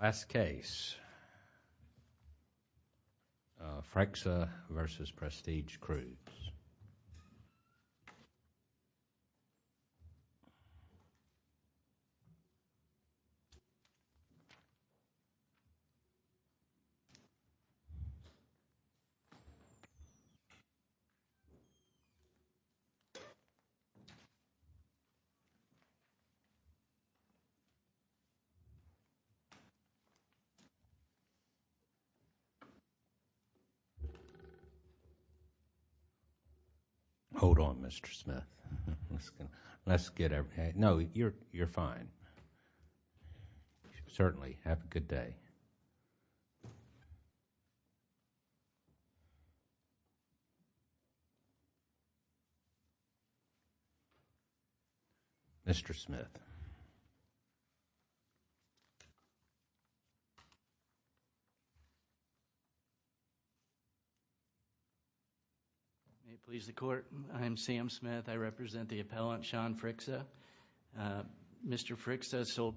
Last case, Freixa v. Prestige Cruise Hold on, Mr. Smith. No, you're fine. Certainly. Have a good day. Mr. Smith. May it please the Court, I am Sam Smith. I represent the appellant, Sean Freixa. Mr. Freixa sold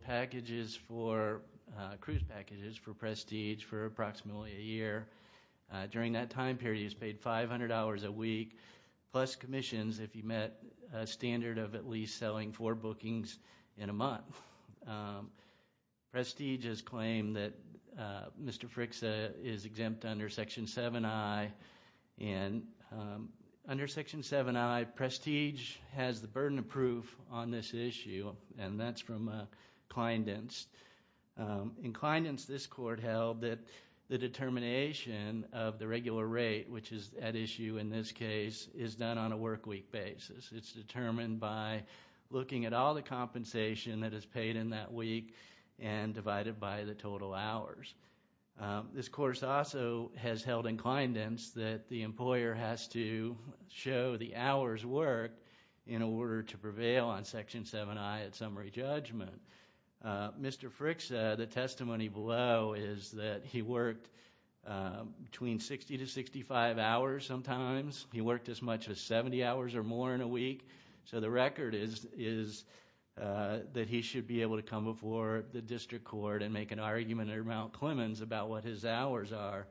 cruise packages for Prestige for approximately a year. During that time period, he was paid $500 a week, plus commissions if he met a standard of at least selling four bookings in a month. Prestige has claimed that Mr. Freixa is exempt under Section 7i. Under Section 7i, Prestige has the burden of proof on this issue, and that's from Clindence. In Clindence, this Court held that the determination of the regular rate, which is at issue in this case, is done on a work week basis. It's determined by looking at all the compensation that is paid in that week and divided by the total hours. This employer has to show the hours worked in order to prevail on Section 7i at summary judgment. Mr. Freixa, the testimony below is that he worked between 60 to 65 hours sometimes. He worked as much as 70 hours or more in a week. The record is that he should be able to come before the District Court and make an argument at Mount Clemens about what his hours are.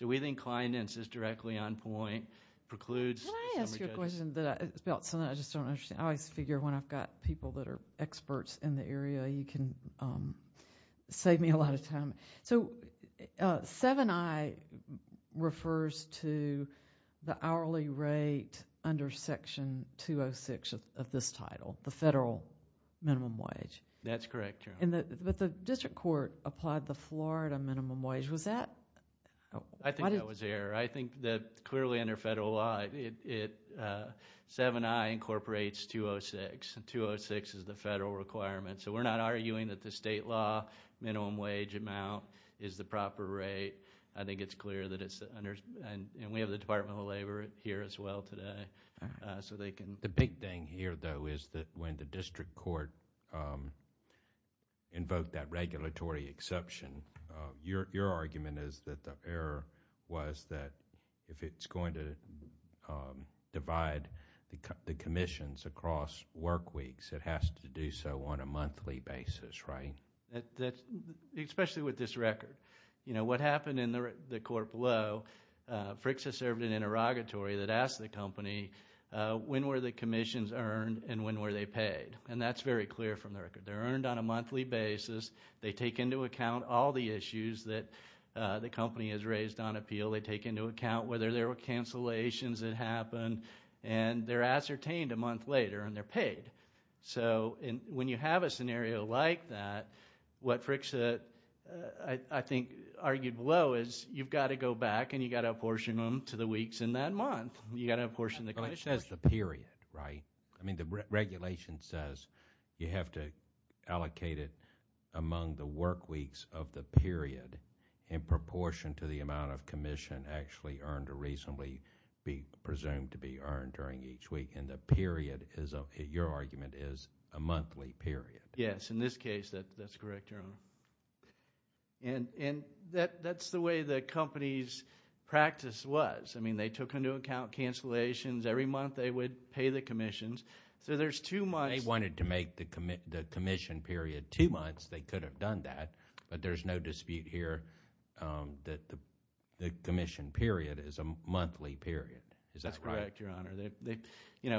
We think Clindence is directly on point. Can I ask you a question about something I just don't understand? I always figure when I've got people that are experts in the area, you can save me a lot of time. 7i refers to the hourly rate under Section 206 of this title, the federal minimum wage. That's correct, Your Honor. The District Court applied the Florida minimum wage. Was that? I think that was the error. I think that clearly under federal law, 7i incorporates 206. 206 is the federal requirement. We're not arguing that the state law minimum wage amount is the proper rate. I think it's clear that it's under. We have the Department of Labor here as well today. The big thing here, though, is that when the District Court invoked that regulatory exception, your argument is that the error was that if it's going to divide the commissions across work weeks, it has to do so on a monthly basis, right? Especially with this record. What happened in the court below, Frick's has served an When were the commissions earned and when were they paid? That's very clear from the record. They're earned on a monthly basis. They take into account all the issues that the company has raised on appeal. They take into account whether there were cancellations that happened. They're ascertained a month later and they're paid. When you have a scenario like that, what Frick's argued below is you've got to go back and you've got to apportion them to the weeks in that month. You've got to apportion the commissions. It says the period, right? The regulation says you have to allocate it among the work weeks of the period in proportion to the amount of commission actually earned or reasonably be presumed to be earned during each week. The period, your argument, is a monthly period. Yes. In this case, that's correct, Your Honor. That's the way the company's practice was I mean, they took into account cancellations. Every month they would pay the commissions. They wanted to make the commission period two months. They could have done that, but there's no dispute here that the commission period is a monthly period. Is that right? That's correct, Your Honor.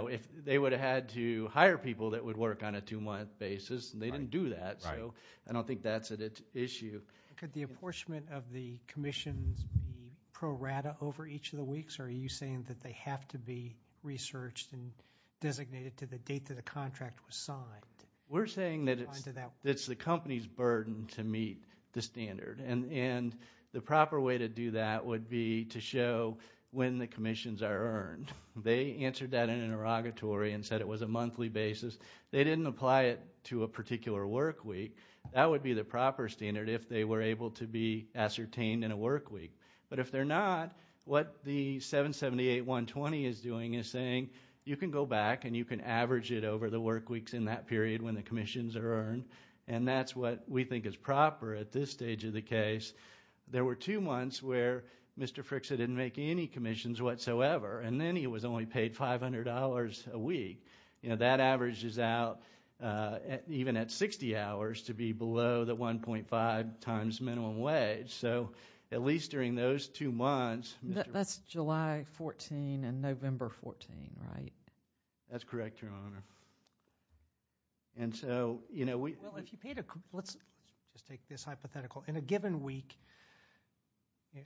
If they would have had to hire people that would work on a two-month basis, they didn't do that. I don't think that's an issue. Could the apportionment of the commissions be pro rata over each of the weeks, or are you saying that they have to be researched and designated to the date that a contract was signed? We're saying that it's the company's burden to meet the standard. The proper way to do that would be to show when the commissions are earned. They answered that in an interrogatory and said it was a monthly basis. They didn't apply it to a particular work week. That would be the proper standard if they were able to be ascertained in a work week. But if they're not, what the 778-120 is doing is saying you can go back and you can average it over the work weeks in that period when the commissions are earned. That's what we think is proper at this stage of the case. There were two months where Mr. Fricksa didn't make any commissions whatsoever. Then he was only paid $500 a week. That averages out, even at 60 hours, to be below the 1.5 times minimum wage. At least during those two months... That's July 14 and November 14, right? That's correct, Your Honor. Let's take this hypothetical. In a given week,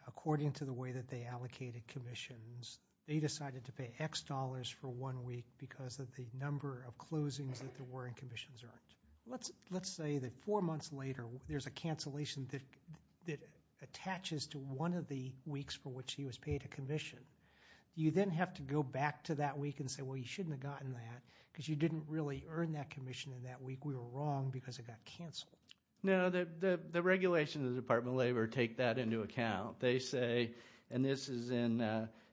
according to the way that they allocated commissions, they decided to pay X dollars for one week because of the number of closings that there were in commissions earned. Let's say that four months later, there's a cancellation that attaches to one of the weeks for which he was paid a commission. Do you then have to go back to that week and say, well, you shouldn't have gotten that because you didn't really earn that commission in that week? We were wrong because it got canceled. No, the regulations of the Department of Labor take that into account. They say, and this is in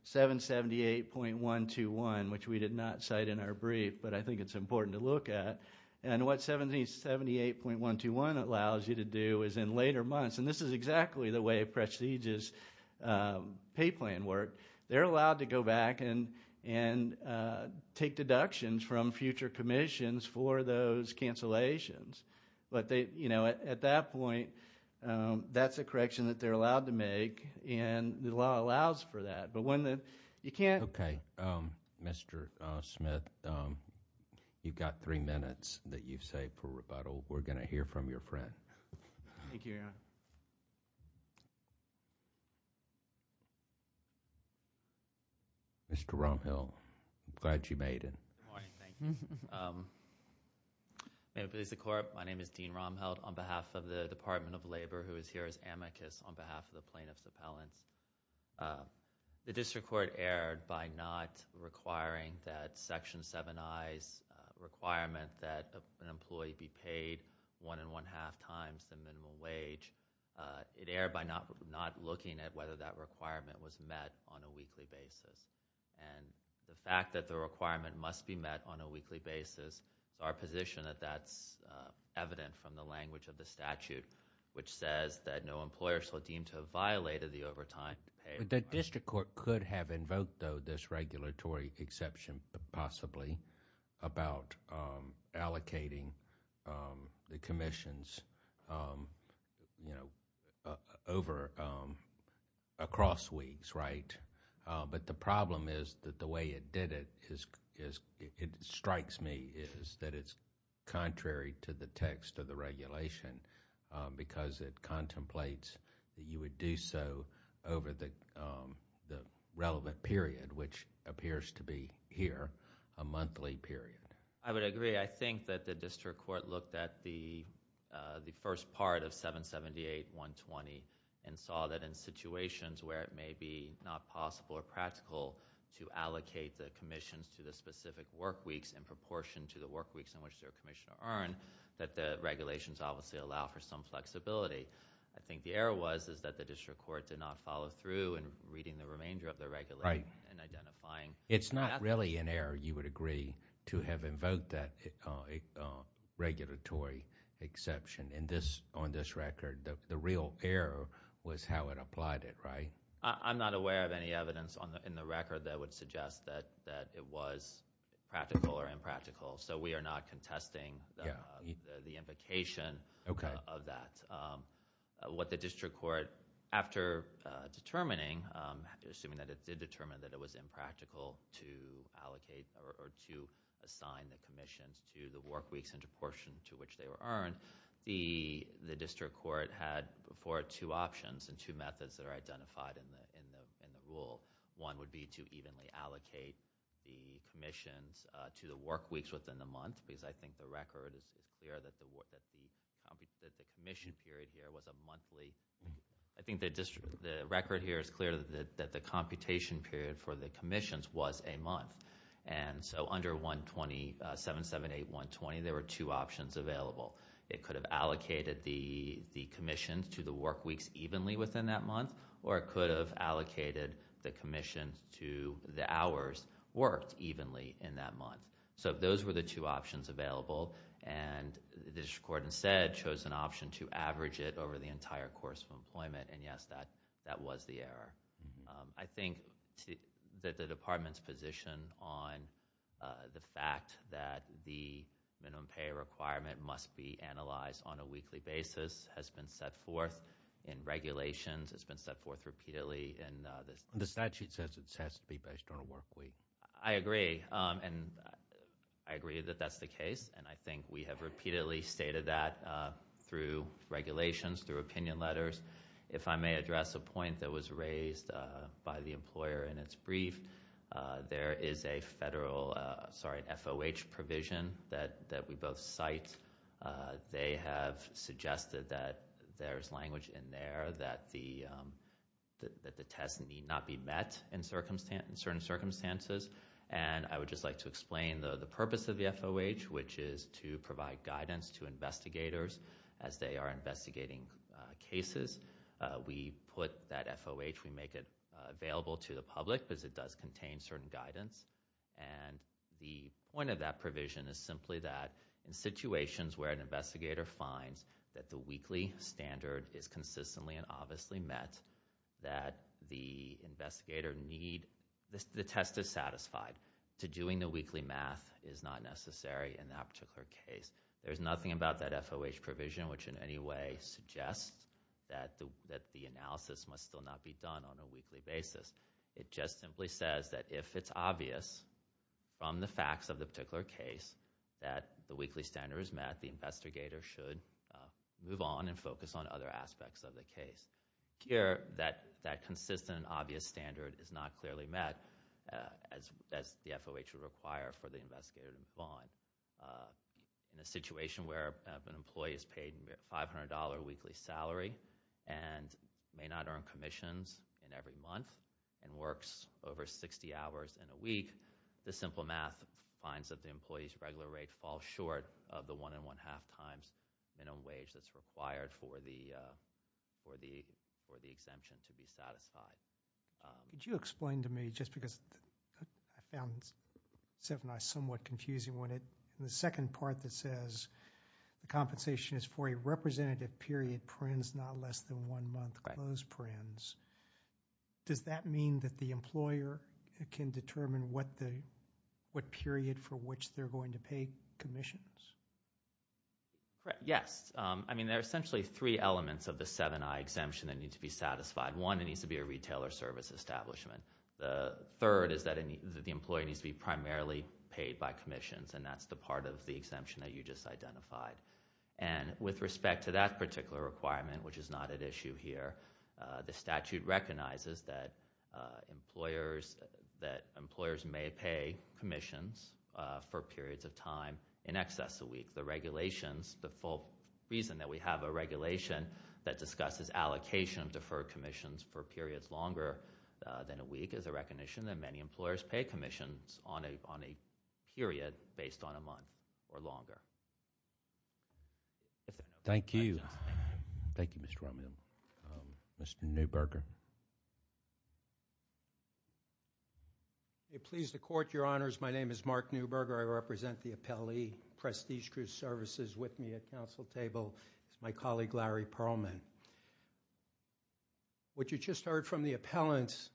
778.121, which we did not cite in our brief, but I think it's important to look at. What 778.121 allows you to do is in later months, and this is exactly the way a prestigious pay plan worked, they're allowed to go back and take deductions from future commissions for those cancellations. At that point, that's a correction that they're allowed to make and the law allows for that. Okay, Mr. Smith, you've got three minutes that you've saved for rebuttal. We're going to hear from your friend. Thank you, Your Honor. Mr. Rumhill, glad you made it. Good morning. My name is Dean Rumhill on behalf of the Department of Labor, who is here as amicus on behalf of the plaintiffs' appellants. The district court erred by not requiring that Section 7i's requirement that an employee be paid one and one-half times the minimum wage, it erred by not looking at whether that requirement was met on a weekly basis. The fact that the requirement must be met on a weekly basis, it's our position that that's evident from the language of the statute, which says that no employer shall deem to have violated the overtime to pay... The district court could have invoked, though, this regulatory exception, possibly, about allocating the commissions, you know, over... across weeks, right? But the problem is that the way it did it, it strikes me, is that it's contrary to the text of the regulation because it contemplates that you would do so over the relevant period, which appears to be here, a monthly period. I would agree. I think that the district court looked at the first part of 778-120 and saw that in situations where it may be not possible or practical to allocate the commissions to the specific work weeks in proportion to the work weeks in which their commission are earned, that the regulations obviously allow for some flexibility. I think the error was that the district court did not follow through in reading the remainder of the regulation and identifying... It's not really an error, you would agree, to have invoked that regulatory exception. On this record, the real error was how it applied it, right? I'm not aware of any evidence in the record that would suggest that it was practical or impractical, so we are not contesting the invocation of that. What the district court, after determining... assuming that it did determine that it was impractical to allocate or to assign the commissions to the work weeks in proportion to which they were earned, the district court had before it two options and two methods that are identified in the rule. One would be to evenly allocate the commissions to the work weeks within the month, because I think the record is clear that the commission period here was a monthly... I think the record here is clear that the computation period for the commissions was a month, and so under 12778120, there were two options available. It could have allocated the commissions to the work weeks evenly within that month, or it could have allocated the commissions to the hours worked evenly in that month. So those were the two options available, and the district court instead chose an option to average it over the entire course of employment, and yes, that was the error. I think that the department's position on the fact that the minimum pay requirement must be analyzed on a weekly basis has been set forth in regulations. It's been set forth repeatedly in... The statute says it has to be based on a work week. I agree, and I agree that that's the case, and I think we have repeatedly stated that through regulations, through opinion letters. If I may address a point that was raised by the employer in its brief, there is a federal... sorry, an FOH provision that we both cite. They have suggested that there's language in there that the test need not be met in certain circumstances, and I would just like to explain the purpose of the FOH, which is to provide guidance to investigators as they are investigating cases. We put that FOH... we make it available to the public because it does contain certain guidance, and the point of that provision is simply that in situations where an investigator finds that the weekly standard is consistently and obviously met, that the investigator need... the test is satisfied. To doing the weekly math is not necessary in that particular case. There's nothing about that FOH provision which in any way suggests that the analysis must still not be done on a weekly basis. It just simply says that if it's obvious from the facts of the particular case that the weekly standard is met, the investigator should move on and focus on other aspects of the case. Here, that consistent, obvious standard is not clearly met as the FOH would require for the investigator to move on. In a situation where an employee is paid a $500 weekly salary and may not earn commissions in every month and works over 60 hours in a week, the simple math finds that the employee's regular rate falls short of the one and one-half times minimum wage that's required for the exemption to be satisfied. Could you explain to me, just because I found 7i somewhat confusing, the second part that says the compensation is for a representative period, not less than one month, does that mean that the employer can determine what period for which they're going to pay commissions? Yes. I mean, there are essentially three elements of the 7i exemption that need to be satisfied. One, it needs to be a retailer service establishment. The third is that the employee needs to be primarily paid by commissions, and that's the part of the exemption that you just identified. With respect to that particular requirement, which is not at issue here, the statute recognizes that employers may pay commissions for periods of time in excess of a week. The regulations, the full reason that we have a regulation that discusses allocation of deferred commissions for periods longer than a week is a recognition that many employers pay commissions on a period based on a month or longer. Thank you. Thank you, Mr. Romney. Mr. Neuberger. May it please the Court, Your Honors, my name is Mark Neuberger. I represent the appellee prestige group services with me at council table. This is my colleague, Larry Pearlman. What you just heard from the appellants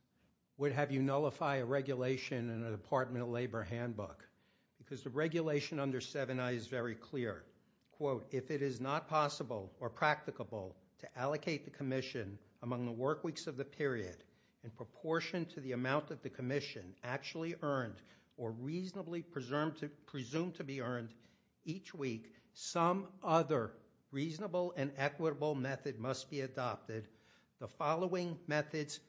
would have you nullify a regulation in a Department of Labor handbook because the regulation under 7i is very clear. Quote, if it is not possible or practicable to allocate the commission among the work weeks of the period in proportion to the amount that the commission actually earned or reasonably presumed to be earned each week, some other reasonable and equitable method must be adopted. The following methods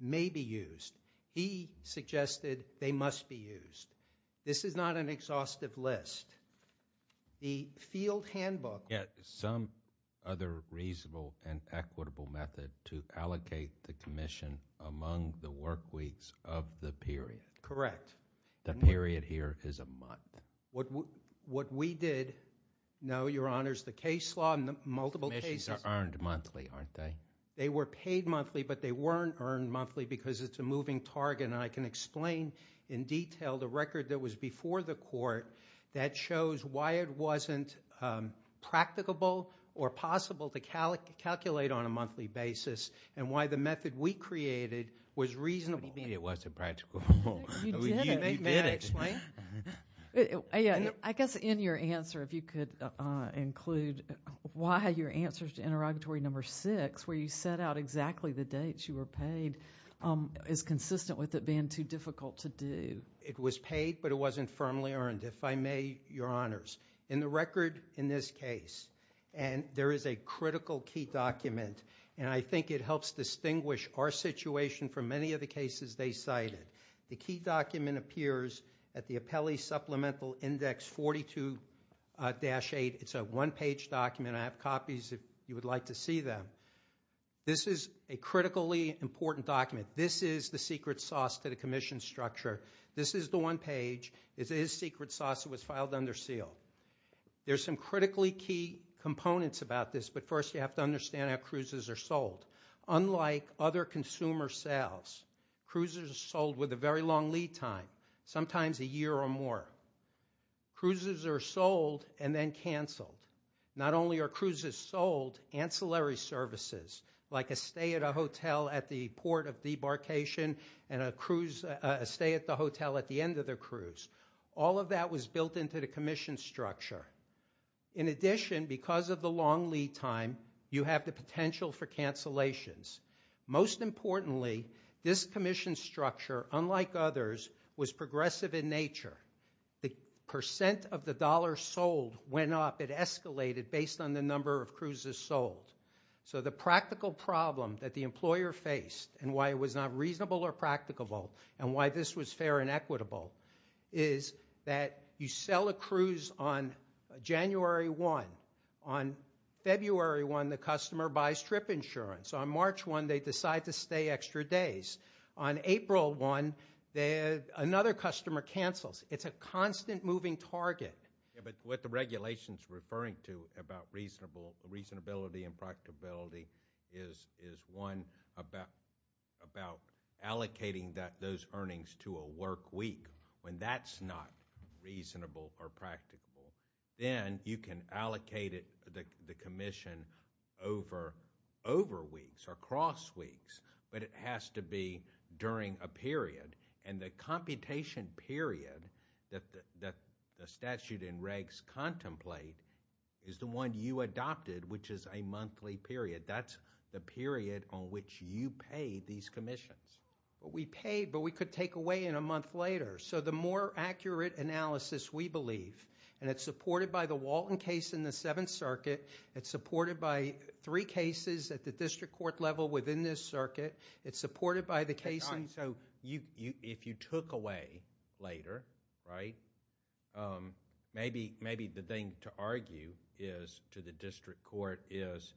may be used. He suggested they must be used. This is not an exhaustive list. The field handbook... Some other reasonable and equitable method to allocate the commission among the work weeks of the period. Correct. The period here is a month. What we did, no, Your Honors, the case law and the multiple cases... Commissions are earned monthly, aren't they? They were paid monthly, but they weren't earned monthly because it's a moving target and I can explain in detail the record that was before the court that shows why it wasn't practicable or possible to calculate on a monthly basis and why the method we created was reasonable. What do you mean it wasn't practicable? You did explain. I guess in your answer, if you could include why your answers to interrogatory number six where you set out exactly the dates you were paid is consistent with it being too difficult to do. It was paid, but it wasn't firmly earned, if I may, Your Honors. In the record in this case, and there is a critical key document, and I think it helps distinguish our situation from many of the cases they cited. The key document appears at the Appellee Supplemental Index 42-8. It's a one-page document. I have copies if you would like to see them. This is a critically important document. This is the secret sauce to the commission structure. This is the one page. It is secret sauce. It was filed under seal. There's some critically key components about this, but first you have to understand how cruises are sold. Unlike other consumer sales, cruises are sold with a very long lead time, sometimes a year or more. Cruises are sold and then canceled. Not only are cruises sold, ancillary services like a stay at a hotel at the port of debarkation and a stay at the hotel at the end of the cruise, all of that was built into the commission structure. In addition, because of the long lead time, you have the potential for cancellations. Most importantly, this commission structure, unlike others, was progressive in nature. The percent of the dollars sold went up. It is a constant moving target. What the regulations are referring to about reasonability and practicability is one about allocating those earnings to a work week. When that's not reasonable or practicable, then you can allocate it to the commission over weeks or cross weeks, but it has to be during a period. The computation period that the statute and regs contemplate is the one you adopted, which is a monthly period. That's the period on which you pay these commissions. We pay, but we could take away in a month later. The more accurate analysis we believe, and it's supported by the Walton case in the Seventh Circuit. It's supported by three cases at the district court level within this circuit. It's supported by the case in... If you took away later, maybe the thing to argue to the district court is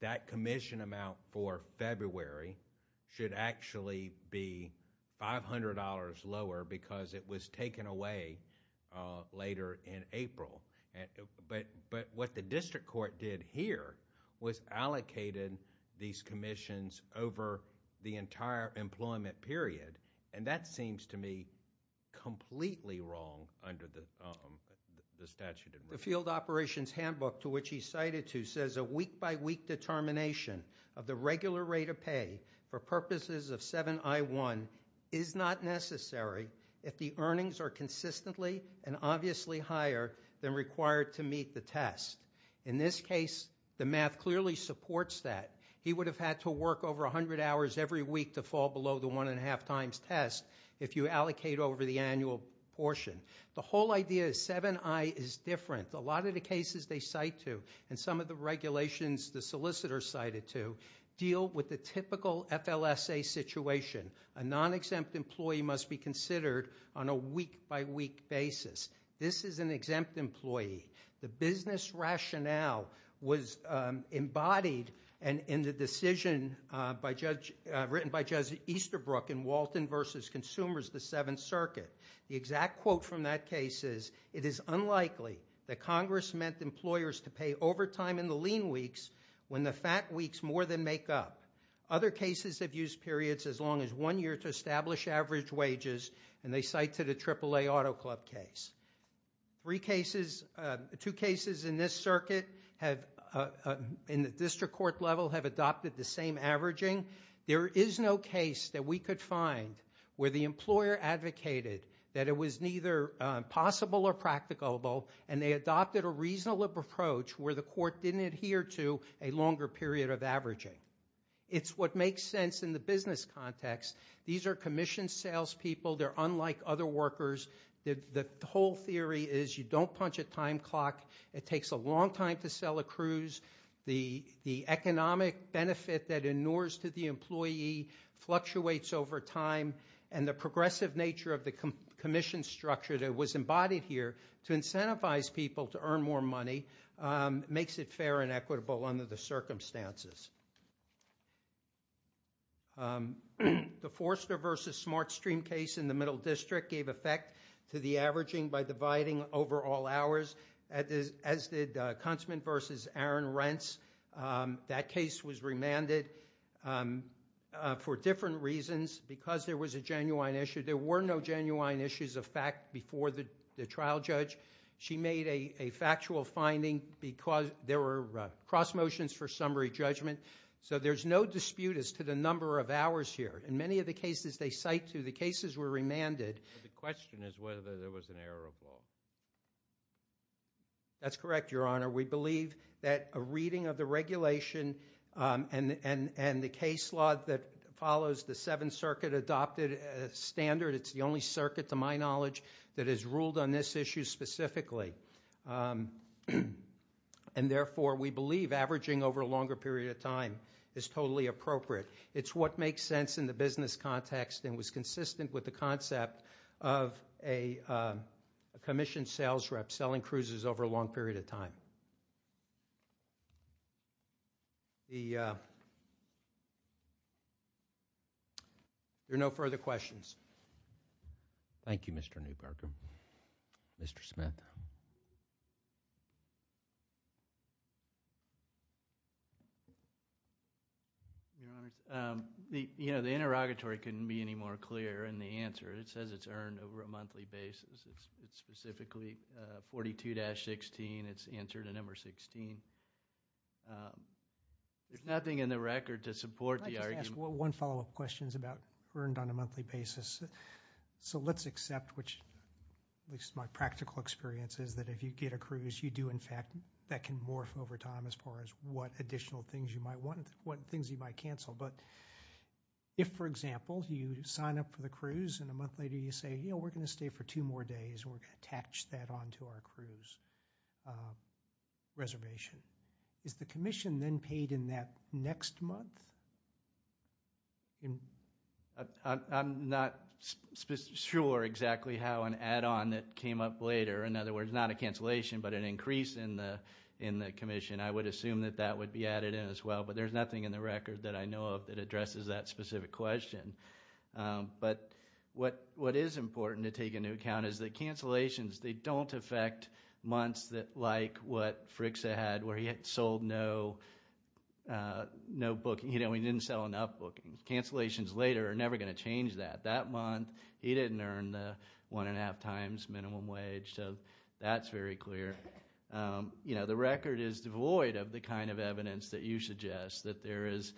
that commission amount for February should actually be $500 lower because it was taken away later in April. What the district court did here was allocated these commissions over the entire employment period. That seems to me completely wrong under the statute and regs. The field operations handbook to which he cited to says a week by week determination of the regular rate of pay for purposes of 7I1 is not necessary if the earnings are consistently and obviously higher than required to meet the test. In this case, the math clearly supports that. He would have had to work over 100 hours every week to fall below the one and a half times test if you allocate over the annual portion. The whole idea is 7I is different. A lot of the cases they cite to and some of the regulations the solicitor cited to deal with the typical FLSA situation. A non-exempt employee must be considered on a week by week basis. This is an exempt employee. The business rationale was embodied in the decision written by Jesse Easterbrook in Walton v. Consumers, the Seventh Circuit. The exact quote from that case is, it is unlikely that Congress meant employers to pay overtime in the lean weeks when the fat weeks more than make up. Other cases have used periods as long as one year to establish average wages and they cite to the AAA Auto Club case. Two cases in this case that we could find where the employer advocated that it was neither possible or practicable and they adopted a reasonable approach where the court didn't adhere to a longer period of averaging. It's what makes sense in the business context. These are commissioned sales people. They're unlike other workers. The whole theory is you don't punch a time clock. It takes a long time to sell a cruise. The economic benefit that inures to the employee fluctuates over time and the progressive nature of the commission structure that was embodied here to incentivize people to earn more money makes it fair and equitable under the circumstances. The Forster v. Smartstream case in the Middle District gave effect to the averaging by dividing over all hours as did Kuntzman v. Aaron Rents. That case was different reasons because there was a genuine issue. There were no genuine issues of fact before the trial judge. She made a factual finding because there were cross motions for summary judgment. So there's no dispute as to the number of hours here. In many of the cases they cite to, the cases were remanded. The question is whether there was an error of law. That's correct, Your Honor. We believe that a reading of the regulation and the case law that follows the Seventh Circuit adopted standard. It's the only circuit to my knowledge that has ruled on this issue specifically. And therefore we believe averaging over a longer period of time is totally appropriate. It's what makes sense in the business context and was consistent with the concept of a commissioned sales rep selling cruises over a long period of time. There are no further questions. Thank you, Mr. Newbarker. Mr. Smith. The interrogatory couldn't be any more clear in the answer. It says it's earned over a period of time. It's answered in number 16. There's nothing in the record to support the argument. I'd like to ask one follow-up question about earned on a monthly basis. So let's accept, which at least my practical experience is that if you get a cruise, you do in fact, that can morph over time as far as what additional things you might want, what things you might cancel. But if, for example, you sign up for the cruise and a month later you say, you know, we're going to stay for two more days and we're going to attach that on to our cruise reservation. Is the commission then paid in that next month? I'm not sure exactly how an add-on that came up later, in other words, not a cancellation but an increase in the commission, I would assume that that would be added in as well. But there's nothing in the record that I know of that addresses that specific question. But what is important to take into account is that cancellations, they don't affect months like what Frixa had where he had sold no booking, you know, he didn't sell enough bookings. Cancellations later are never going to change that. That month he didn't earn the one and a half times minimum wage. So that's very clear. You know, the record is devoid of the kind of evidence that you suggest, that there is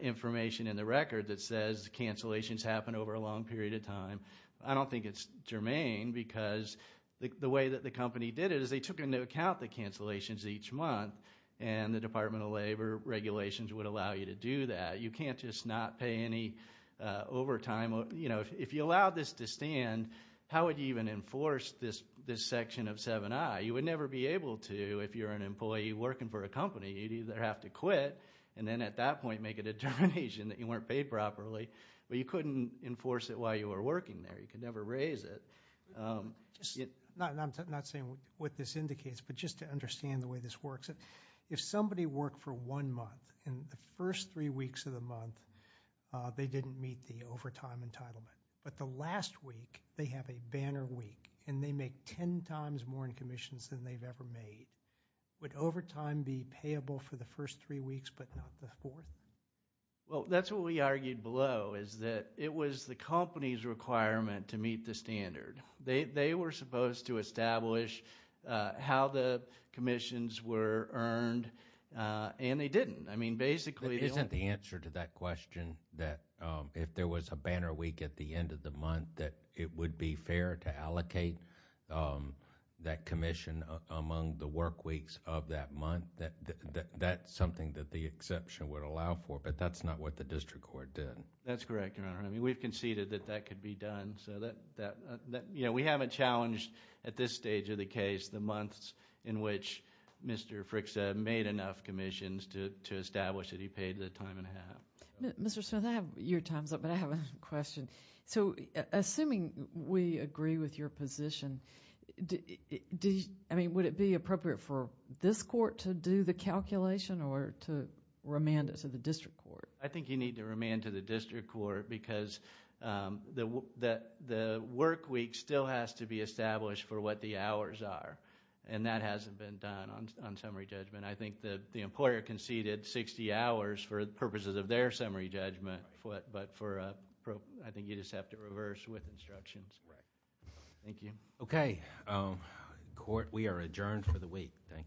information in the record that says cancellations happen over a long period of time. I don't think it's germane because the way that the company did it is they took into account the cancellations each month and the Department of Labor regulations would allow you to do that. You can't just not pay any overtime. You know, if you allowed this to stand, how would you even enforce this section of 7i? You would never be able to if you're an employee working for a company. You'd either have to quit and then at that point make a determination that you weren't paid properly. But you couldn't enforce it while you were working there. You could never raise it. I'm not saying what this indicates, but just to understand the way this works, if somebody worked for one month and the first three weeks of the month they didn't meet the overtime entitlement, but the last week they have a banner week and they make ten times more in commissions than they've ever made, would overtime be payable for the first three weeks but not the fourth? Well, that's what we argued below is that it was the company's requirement to meet the standard. They were supposed to establish how the commissions were earned and they didn't. I mean, basically... Isn't the answer to that question that if there was a banner week at the end of the month that it would be fair to allocate that commission among the work weeks of that month? That's something that the exception would allow for, but that's not what the district court did. That's correct, Your Honor. I mean, we've conceded that that could be done. We haven't challenged at this stage of the case the months in which Mr. Frick said made enough commissions to establish that he paid the time and a half. Mr. Smith, I have your time's up, but I have a question. Assuming we agree with your position, would it be appropriate for this court to do the calculation or to remand it to the district court because the work week still has to be established for what the hours are and that hasn't been done on summary judgment? I think that the employer conceded 60 hours for purposes of their summary judgment, but I think you just have to reverse with instructions. Thank you. Okay. Court, we are adjourned for the week. Thank you.